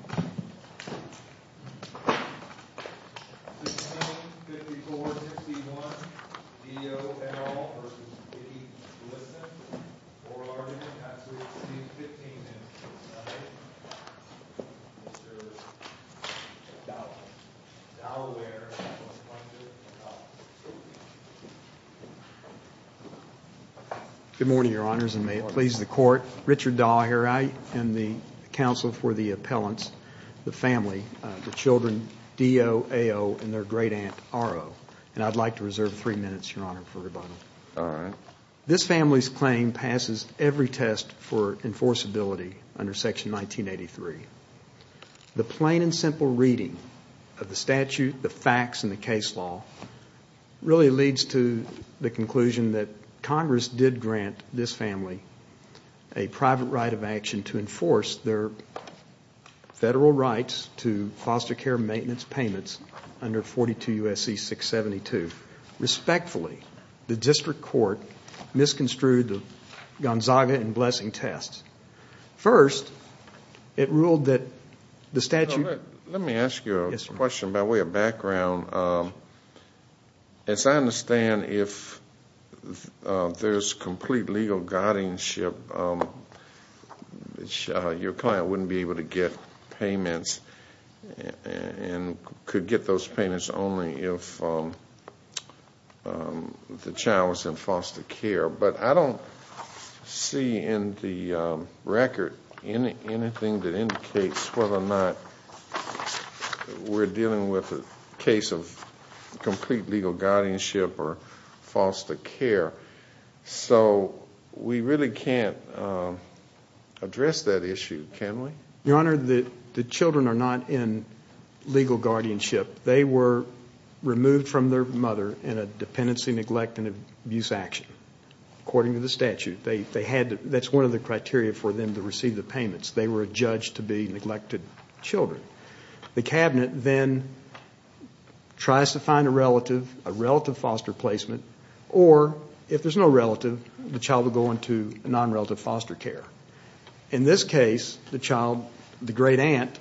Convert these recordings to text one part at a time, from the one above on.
V. O. L. v. Vickie Glisson Good morning, Your Honors, and may it please the Court, I am the counsel for the appellants, the family, the children D.O., A.O., and their great-aunt R.O. And I'd like to reserve three minutes, Your Honor, for rebuttal. All right. This family's claim passes every test for enforceability under Section 1983. The plain and simple reading of the statute, the facts, and the case law really leads to the conclusion that Congress did grant this family a private right of action to enforce their federal rights to foster care maintenance payments under 42 U.S.C. 672. Respectfully, the district court misconstrued the Gonzaga and Blessing tests. First, it ruled that the statute Let me ask you a question by way of background. As I understand, if there's complete legal guardianship, your client wouldn't be able to get payments and could get those payments only if the child was in foster care. But I don't see in the record anything that indicates whether or not we're dealing with a case of complete legal guardianship or foster care. So we really can't address that issue, can we? Your Honor, the children are not in legal guardianship. They were removed from their mother in a dependency, neglect, and abuse action, according to the statute. That's one of the criteria for them to receive the payments. They were adjudged to be neglected children. The cabinet then tries to find a relative, a relative foster placement, or if there's no relative, the child will go into non-relative foster care. In this case, the child, the great aunt,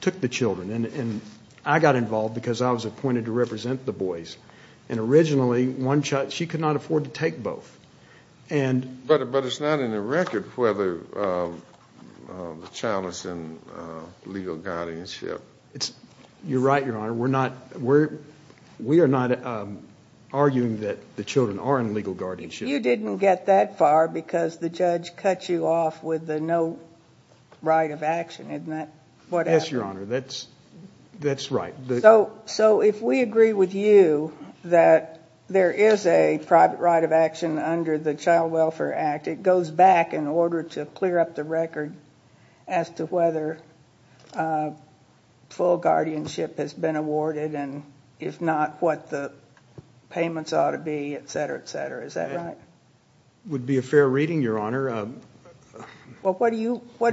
took the children. And I got involved because I was appointed to represent the boys. And originally, one child, she could not afford to take both. But it's not in the record whether the child is in legal guardianship. You're right, Your Honor. We're not arguing that the children are in legal guardianship. You didn't get that far because the judge cut you off with the no right of action, isn't that what happened? Yes, Your Honor. That's right. So if we agree with you that there is a private right of action under the Child Welfare Act, it goes back in order to clear up the record as to whether full guardianship has been awarded and if not, what the payments ought to be, et cetera, et cetera. Is that right? It would be a fair reading, Your Honor. Well, what are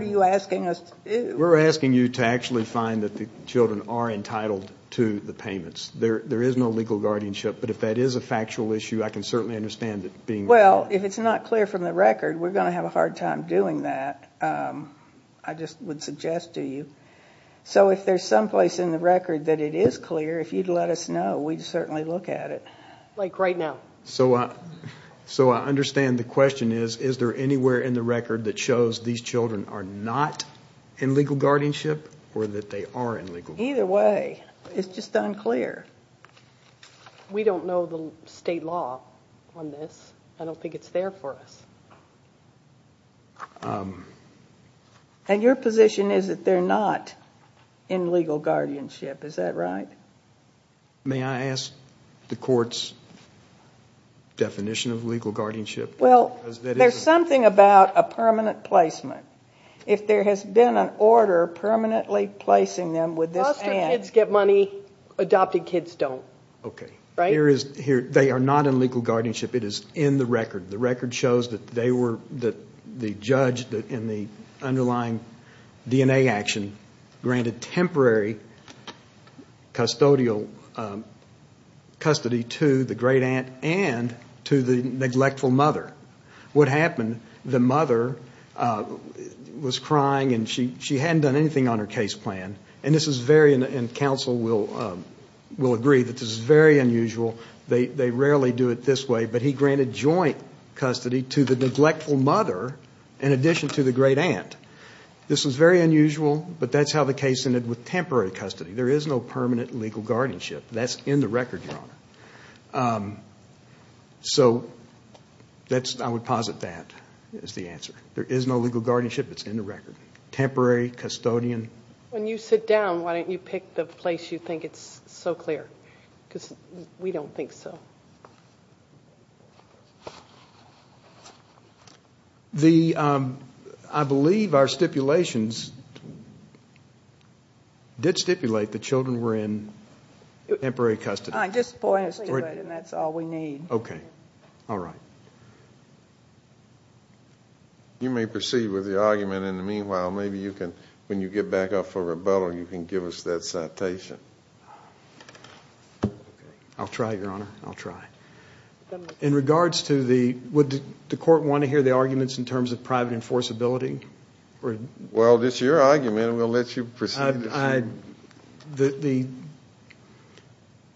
you asking us to do? We're asking you to actually find that the children are entitled to the payments. There is no legal guardianship, but if that is a factual issue, I can certainly understand it being. Well, if it's not clear from the record, we're going to have a hard time doing that. I just would suggest to you. So if there's someplace in the record that it is clear, if you'd let us know, we'd certainly look at it. Like right now. So I understand the question is, is there anywhere in the record that shows these children are not in legal guardianship or that they are in legal guardianship? Either way. It's just unclear. We don't know the state law on this. I don't think it's there for us. And your position is that they're not in legal guardianship. Is that right? May I ask the court's definition of legal guardianship? Well, there's something about a permanent placement. If there has been an order permanently placing them with this ban. Foster kids get money. Adopted kids don't. Okay. They are not in legal guardianship. It is in the record. The record shows that the judge in the underlying DNA action granted temporary custodial custody to the great aunt and to the neglectful mother. What happened, the mother was crying and she hadn't done anything on her case plan. And this is very, and counsel will agree, this is very unusual. They rarely do it this way, but he granted joint custody to the neglectful mother in addition to the great aunt. This was very unusual, but that's how the case ended, with temporary custody. There is no permanent legal guardianship. That's in the record, Your Honor. So I would posit that as the answer. There is no legal guardianship. It's in the record. Temporary, custodian. When you sit down, why don't you pick the place you think is so clear? Because we don't think so. I believe our stipulations did stipulate that children were in temporary custody. Just point us to it, and that's all we need. Okay. You may proceed with the argument. In the meanwhile, maybe you can, when you get back up for rebuttal, you can give us that citation. I'll try, Your Honor. I'll try. In regards to the, would the court want to hear the arguments in terms of private enforceability? Well, it's your argument, and we'll let you proceed.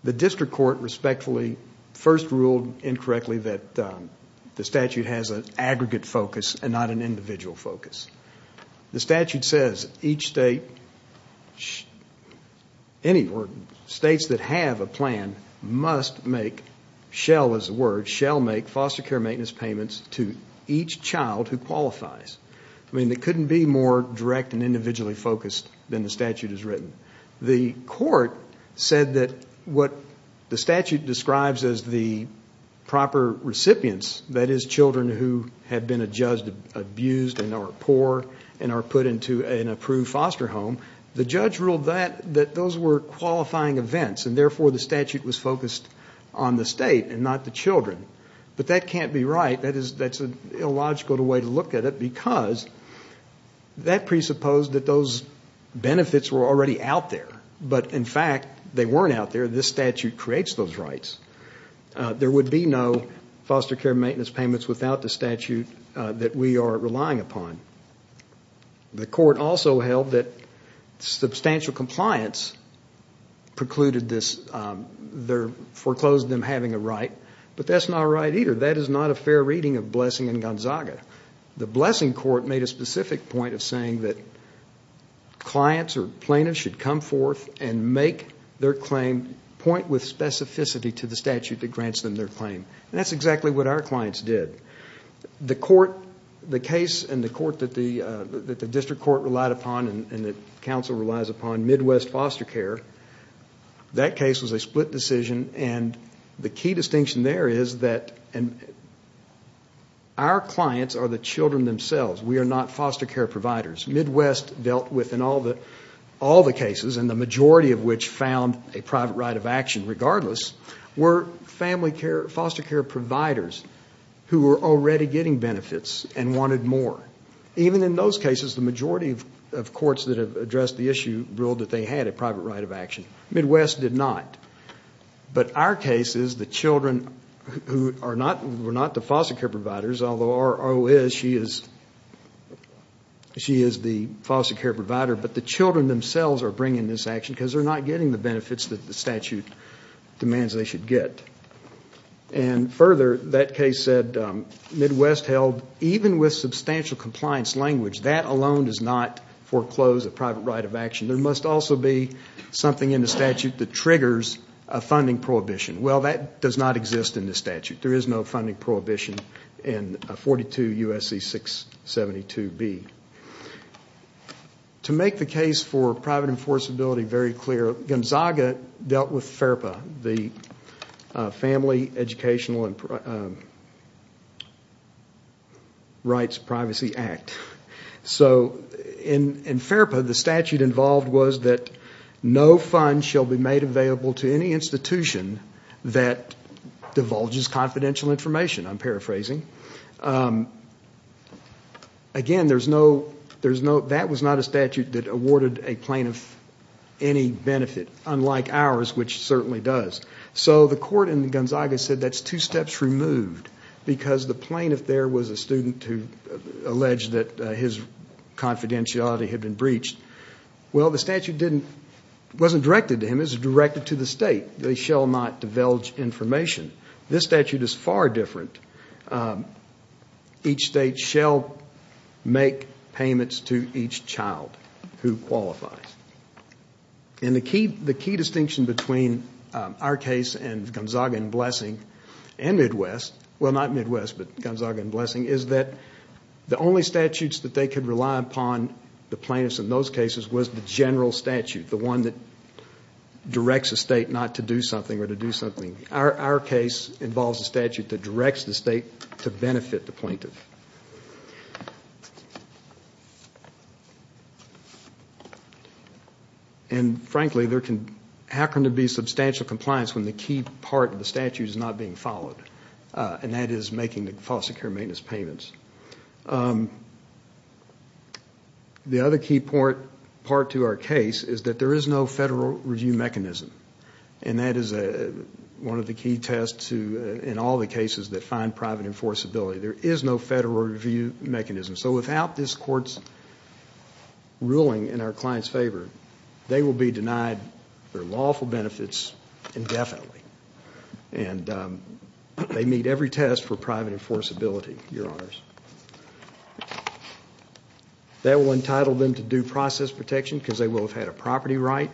The district court respectfully first ruled incorrectly that the statute has an aggregate focus and not an individual focus. The statute says each state, any states that have a plan, must make, shall as a word, shall make foster care maintenance payments to each child who qualifies. I mean, it couldn't be more direct and individually focused than the statute has written. The court said that what the statute describes as the proper recipients, that is children who have been abused and are poor and are put into an approved foster home, the judge ruled that those were qualifying events, and therefore the statute was focused on the state and not the children. But that can't be right. That's an illogical way to look at it because that presupposed that those benefits were already out there. But, in fact, they weren't out there. This statute creates those rights. There would be no foster care maintenance payments without the statute that we are relying upon. The court also held that substantial compliance precluded this, foreclosed them having a right. But that's not right either. That is not a fair reading of blessing and Gonzaga. The blessing court made a specific point of saying that clients or plaintiffs should come forth and make their claim point with specificity to the statute that grants them their claim. And that's exactly what our clients did. The court, the case in the court that the district court relied upon and that counsel relies upon, Midwest Foster Care, that case was a split decision. And the key distinction there is that our clients are the children themselves. We are not foster care providers. Midwest dealt with, in all the cases, and the majority of which found a private right of action regardless, were foster care providers who were already getting benefits and wanted more. Even in those cases, the majority of courts that have addressed the issue ruled that they had a private right of action. Midwest did not. But our case is the children who were not the foster care providers, although our O.S., she is the foster care provider, but the children themselves are bringing this action because they're not getting the benefits that the statute demands they should get. And further, that case said Midwest held, even with substantial compliance language, that alone does not foreclose a private right of action. There must also be something in the statute that triggers a funding prohibition. Well, that does not exist in the statute. There is no funding prohibition in 42 U.S.C. 672B. To make the case for private enforceability very clear, Gonzaga dealt with FERPA, the Family Educational Rights Privacy Act. So in FERPA, the statute involved was that no funds shall be made available to any institution that divulges confidential information, I'm paraphrasing. Again, that was not a statute that awarded a plaintiff any benefit, unlike ours, which it certainly does. So the court in Gonzaga said that's two steps removed because the plaintiff there was a student who alleged that his confidentiality had been breached. Well, the statute wasn't directed to him. It was directed to the state. They shall not divulge information. This statute is far different. Each state shall make payments to each child who qualifies. And the key distinction between our case and Gonzaga and Blessing and Midwest, well, not Midwest, but Gonzaga and Blessing, is that the only statutes that they could rely upon the plaintiffs in those cases was the general statute, the one that directs a state not to do something or to do something. Our case involves a statute that directs the state to benefit the plaintiff. And frankly, there can happen to be substantial compliance when the key part of the statute is not being followed, and that is making the foster care maintenance payments. The other key part to our case is that there is no federal review mechanism, and that is one of the key tests in all the cases that find private enforceability. There is no federal review mechanism. So without this Court's ruling in our client's favor, they will be denied their lawful benefits indefinitely, and they meet every test for private enforceability, Your Honors. That will entitle them to due process protection because they will have had a property right,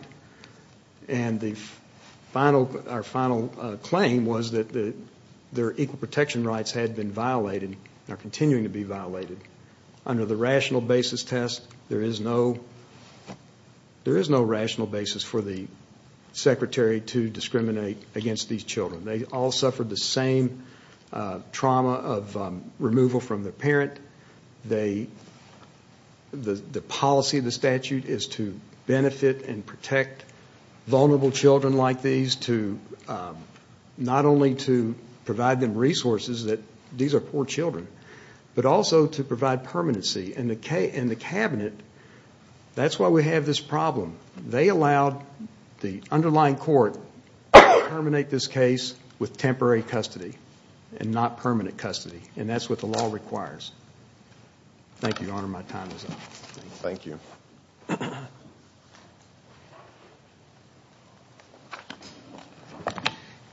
and our final claim was that their equal protection rights had been violated and are continuing to be violated. Under the rational basis test, there is no rational basis for the secretary to discriminate against these children. They all suffered the same trauma of removal from their parent. The policy of the statute is to benefit and protect vulnerable children like these, not only to provide them resources that these are poor children, but also to provide permanency. And the cabinet, that's why we have this problem. They allowed the underlying court to terminate this case with temporary custody and not permanent custody, and that's what the law requires. Thank you, Your Honor. My time is up. Thank you.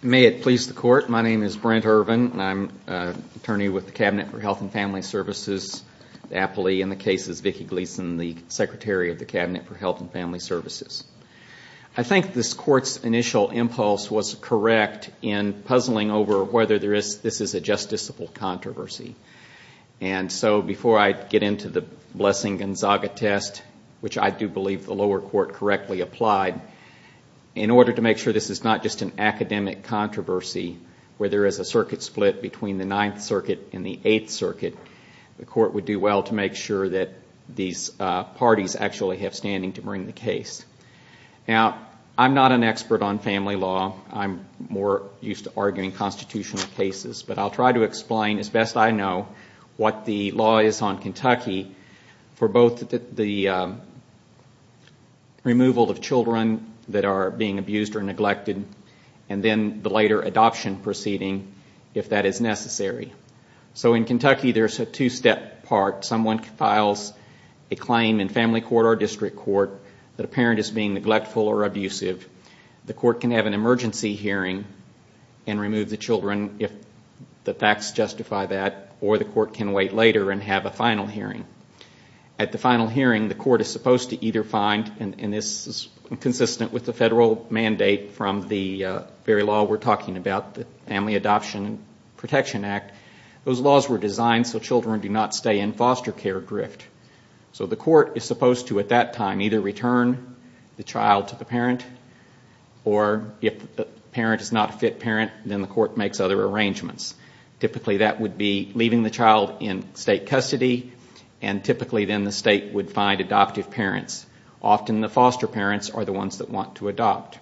May it please the Court. My name is Brent Irvin. I'm an attorney with the Cabinet for Health and Family Services, the appellee in the case is Vicki Gleason, the secretary of the Cabinet for Health and Family Services. I think this Court's initial impulse was correct in puzzling over whether this is a justiciable controversy. And so before I get into the Blessing-Gonzaga test, which I do believe the lower court correctly applied, in order to make sure this is not just an academic controversy where there is a circuit split between the Ninth Circuit and the Eighth Circuit, the Court would do well to make sure that these parties actually have standing to bring the case. Now, I'm not an expert on family law. I'm more used to arguing constitutional cases, but I'll try to explain as best I know what the law is on Kentucky for both the removal of children that are being abused or neglected and then the later adoption proceeding if that is necessary. So in Kentucky there's a two-step part. Someone files a claim in family court or district court that a parent is being neglectful or abusive. The court can have an emergency hearing and remove the children if the facts justify that, or the court can wait later and have a final hearing. At the final hearing, the court is supposed to either find, and this is consistent with the federal mandate from the very law we're talking about, the Family Adoption Protection Act, those laws were designed so children do not stay in foster care grift. So the court is supposed to at that time either return the child to the parent or if the parent is not a fit parent, then the court makes other arrangements. Typically that would be leaving the child in state custody and typically then the state would find adoptive parents. Often the foster parents are the ones that want to adopt.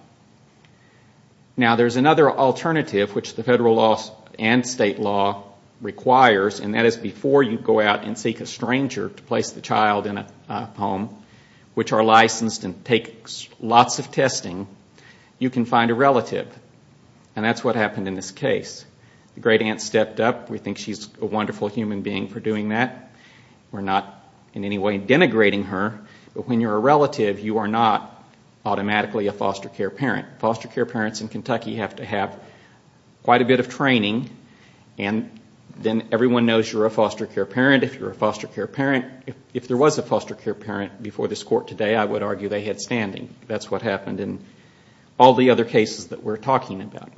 Now, there's another alternative which the federal law and state law requires, and that is before you go out and seek a stranger to place the child in a home which are licensed and take lots of testing, you can find a relative. And that's what happened in this case. The great aunt stepped up. We think she's a wonderful human being for doing that. We're not in any way denigrating her. But when you're a relative, you are not automatically a foster care parent. Foster care parents in Kentucky have to have quite a bit of training and then everyone knows you're a foster care parent if you're a foster care parent. If there was a foster care parent before this court today, I would argue they had standing. That's what happened in all the other cases that we're talking about.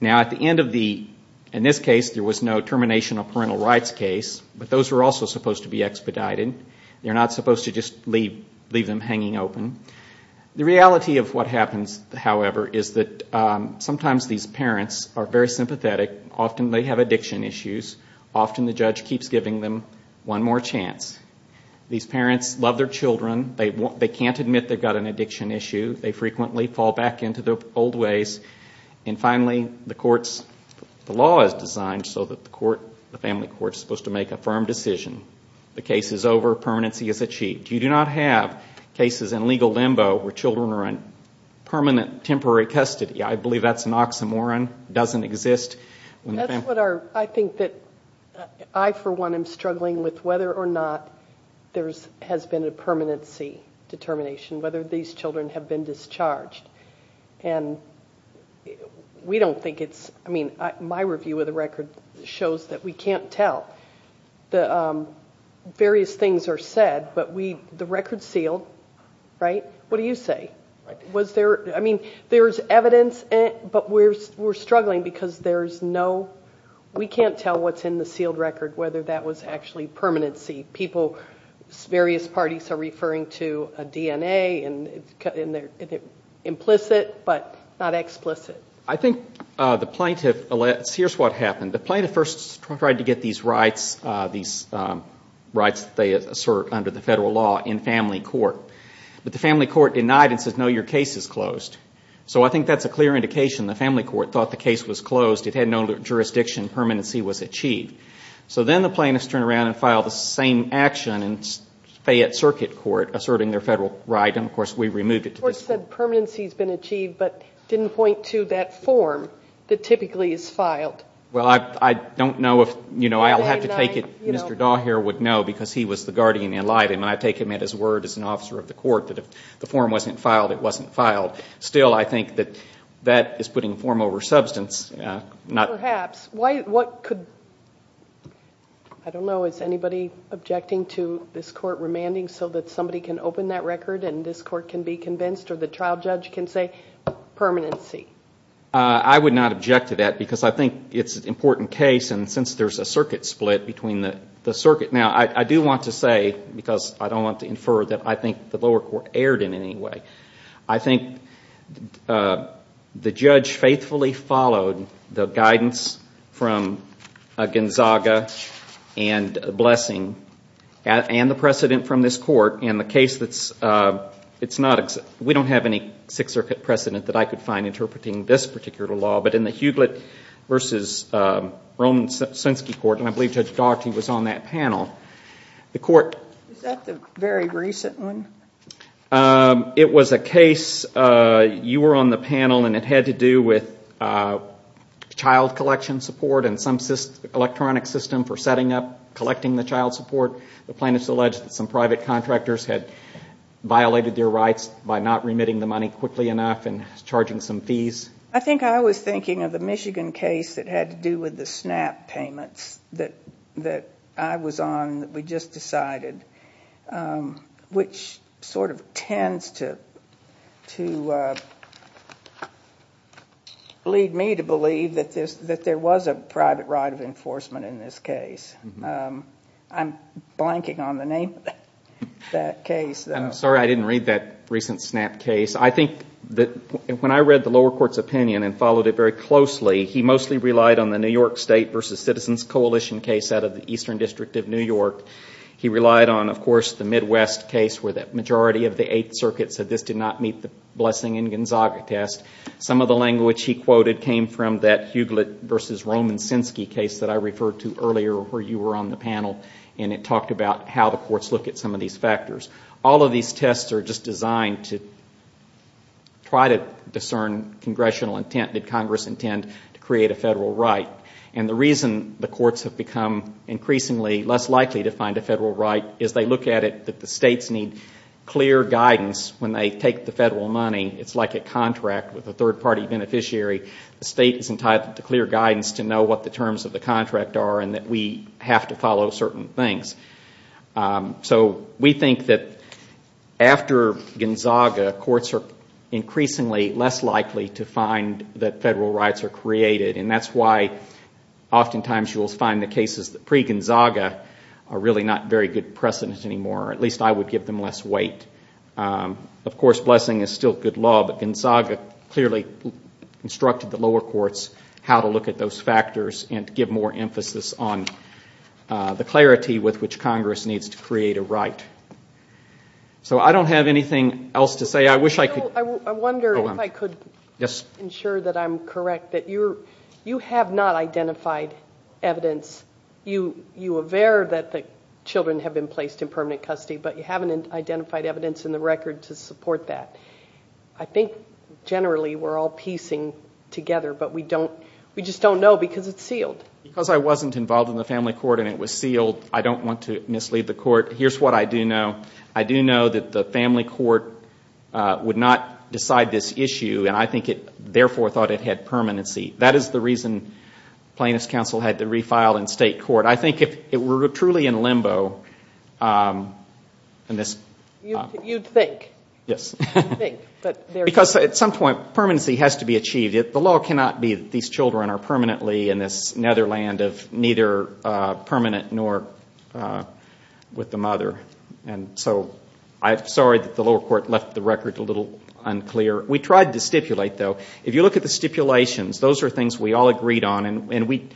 Now, at the end of the, in this case, there was no termination of parental rights case, but those were also supposed to be expedited. They're not supposed to just leave them hanging open. The reality of what happens, however, is that sometimes these parents are very sympathetic. Often they have addiction issues. Often the judge keeps giving them one more chance. These parents love their children. They can't admit they've got an addiction issue. They frequently fall back into their old ways. And finally, the courts, the law is designed so that the court, the family court is supposed to make a firm decision. The case is over. Permanency is achieved. You do not have cases in legal limbo where children are in permanent temporary custody. I believe that's an oxymoron. It doesn't exist. That's what I think that I, for one, am struggling with, whether or not there has been a permanency determination, whether these children have been discharged. And we don't think it's, I mean, my review of the record shows that we can't tell. The various things are said, but the record's sealed, right? What do you say? Was there, I mean, there's evidence, but we're struggling because there's no, we can't tell what's in the sealed record, whether that was actually permanency. Various parties are referring to a DNA, and it's implicit but not explicit. I think the plaintiff, here's what happened. The plaintiff first tried to get these rights that they assert under the federal law in family court. But the family court denied and said, no, your case is closed. So I think that's a clear indication. The family court thought the case was closed. It had no jurisdiction. Permanency was achieved. So then the plaintiffs turned around and filed the same action in Fayette Circuit Court, asserting their federal right, and, of course, we removed it. The court said permanency's been achieved, but didn't point to that form that typically is filed. Well, I don't know if, you know, I'll have to take it Mr. Daugherty would know, because he was the guardian and lied to him, and I take him at his word as an officer of the court that if the form wasn't filed, it wasn't filed. Still, I think that that is putting form over substance. Perhaps. Why, what could, I don't know, is anybody objecting to this court remanding so that somebody can open that record and this court can be convinced or the trial judge can say permanency? I would not object to that because I think it's an important case, and since there's a circuit split between the circuit. Now, I do want to say, because I don't want to infer, that I think the lower court erred in any way. I think the judge faithfully followed the guidance from Gonzaga and Blessing and the precedent from this court in the case that's, it's not, we don't have any Sixth Circuit precedent that I could find interpreting this particular law, but in the Hewlett v. Roman-Sunsky court, and I believe Judge Daugherty was on that panel, the court. Is that the very recent one? It was a case, you were on the panel, and it had to do with child collection support and some electronic system for setting up, collecting the child support. The plaintiff's alleged that some private contractors had violated their rights by not remitting the money quickly enough and charging some fees. I think I was thinking of the Michigan case that had to do with the SNAP payments that I was on, and that we just decided, which sort of tends to lead me to believe that there was a private right of enforcement in this case. I'm blanking on the name of that case, though. I'm sorry I didn't read that recent SNAP case. I think that when I read the lower court's opinion and followed it very closely, he mostly relied on the New York State v. Citizens Coalition case out of the Eastern District of New York. He relied on, of course, the Midwest case where the majority of the Eighth Circuit said this did not meet the Blessing and Gonzaga test. Some of the language he quoted came from that Hewlett v. Roman-Sunsky case that I referred to earlier where you were on the panel, and it talked about how the courts look at some of these factors. All of these tests are just designed to try to discern congressional intent. Did Congress intend to create a federal right? And the reason the courts have become increasingly less likely to find a federal right is they look at it that the states need clear guidance when they take the federal money. It's like a contract with a third-party beneficiary. The state is entitled to clear guidance to know what the terms of the contract are and that we have to follow certain things. So we think that after Gonzaga, courts are increasingly less likely to find that federal rights are created, and that's why oftentimes you will find the cases pre-Gonzaga are really not very good precedent anymore, or at least I would give them less weight. Of course, Blessing is still good law, but Gonzaga clearly instructed the lower courts how to look at those factors and give more emphasis on the clarity with which Congress needs to create a right. So I don't have anything else to say. I wish I could... I wonder if I could ensure that I'm correct, that you have not identified evidence. You aver that the children have been placed in permanent custody, but you haven't identified evidence in the record to support that. I think generally we're all piecing together, but we just don't know, because it's sealed. Because I wasn't involved in the family court and it was sealed, I don't want to mislead the court. Here's what I do know. I do know that the family court would not decide this issue, and I think it therefore thought it had permanency. That is the reason plaintiff's counsel had to refile in state court. I think if it were truly in limbo... You'd think. Yes. You'd think. Because at some point permanency has to be achieved. The law cannot be that these children are permanently in this netherland of neither permanent nor with the mother. And so I'm sorry that the lower court left the record a little unclear. We tried to stipulate, though. If you look at the stipulations, those are things we all agreed on, and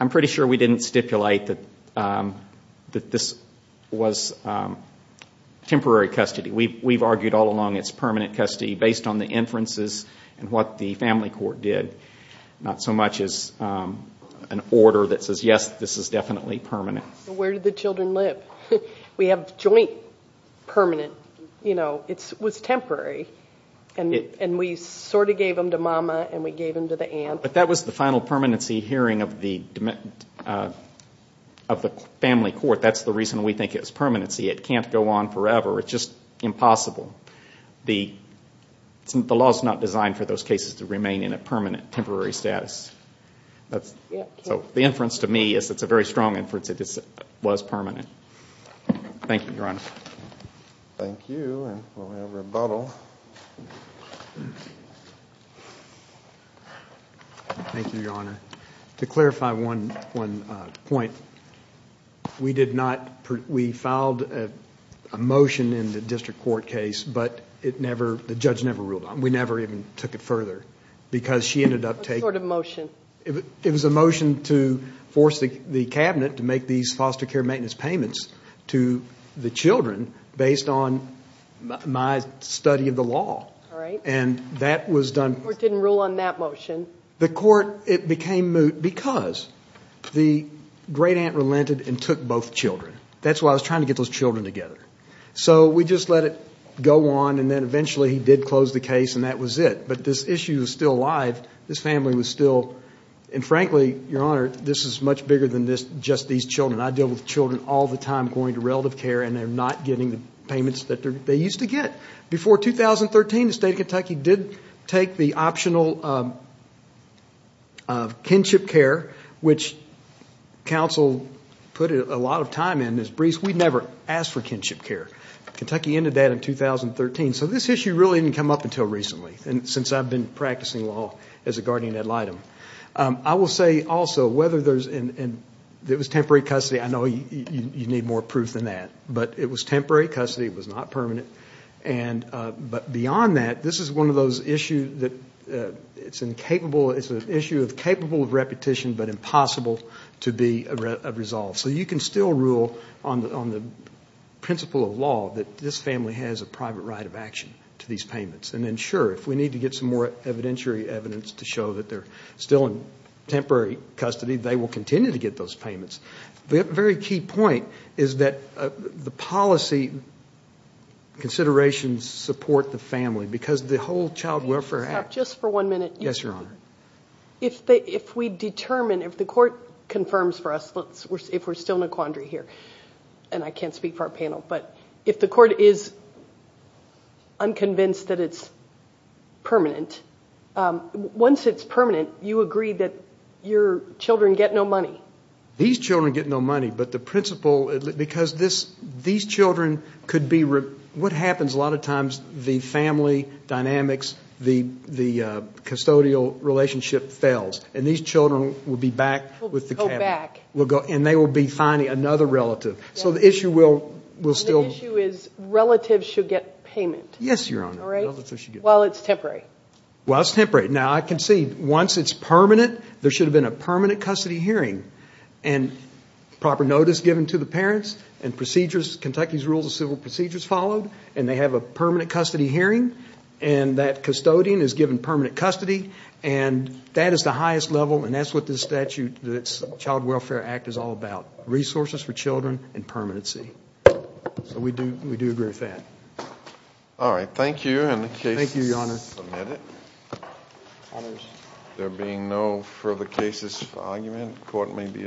I'm pretty sure we didn't stipulate that this was temporary custody. We've argued all along it's permanent custody based on the inferences and what the family court did, not so much as an order that says, yes, this is definitely permanent. Where did the children live? We have joint permanent. It was temporary, and we sort of gave them to Mama and we gave them to the aunt. But that was the final permanency hearing of the family court. That's the reason we think it was permanency. It can't go on forever. It's just impossible. The law is not designed for those cases to remain in a permanent temporary status. So the inference to me is it's a very strong inference that it was permanent. Thank you, Your Honor. Thank you, and we'll have rebuttal. Thank you, Your Honor. To clarify one point, we filed a motion in the district court case, but the judge never ruled on it. We never even took it further because she ended up taking it. What sort of motion? It was a motion to force the cabinet to make these foster care maintenance payments to the children based on my study of the law. All right. And that was done. The court didn't rule on that motion. The court, it became moot because the great aunt relented and took both children. That's why I was trying to get those children together. So we just let it go on and then eventually he did close the case and that was it. But this issue is still alive. This family was still, and frankly, Your Honor, this is much bigger than just these children. I deal with children all the time going to relative care and they're not getting the payments that they used to get. Before 2013, the state of Kentucky did take the optional kinship care, which counsel put a lot of time in. We never asked for kinship care. Kentucky ended that in 2013. So this issue really didn't come up until recently, since I've been practicing law as a guardian ad litem. I will say also, whether it was temporary custody, I know you need more proof than that, but it was temporary custody. It was not permanent. But beyond that, this is one of those issues that it's an issue capable of repetition but impossible to be resolved. So you can still rule on the principle of law that this family has a private right of action to these payments. And then, sure, if we need to get some more evidentiary evidence to show that they're still in temporary custody, they will continue to get those payments. The very key point is that the policy considerations support the family because the whole Child Welfare Act. Stop just for one minute. Yes, Your Honor. If we determine, if the court confirms for us, if we're still in a quandary here, and I can't speak for our panel, but if the court is unconvinced that it's permanent, once it's permanent, you agree that your children get no money. These children get no money. But the principle, because these children could be, what happens a lot of times, the family dynamics, the custodial relationship fails, and these children will be back with the cabinet. Will go back. And they will be finding another relative. So the issue will still. The issue is relatives should get payment. Yes, Your Honor. While it's temporary. While it's temporary. Now, I can see, once it's permanent, there should have been a permanent custody hearing and proper notice given to the parents and procedures, Kentucky's rules of civil procedures followed, and they have a permanent custody hearing, and that custodian is given permanent custody. And that is the highest level, and that's what this statute, this Child Welfare Act, is all about, resources for children and permanency. So we do agree with that. All right. Thank you. Thank you, Your Honor. Submit it. Honors. There being no further cases for argument, court may be adjourned.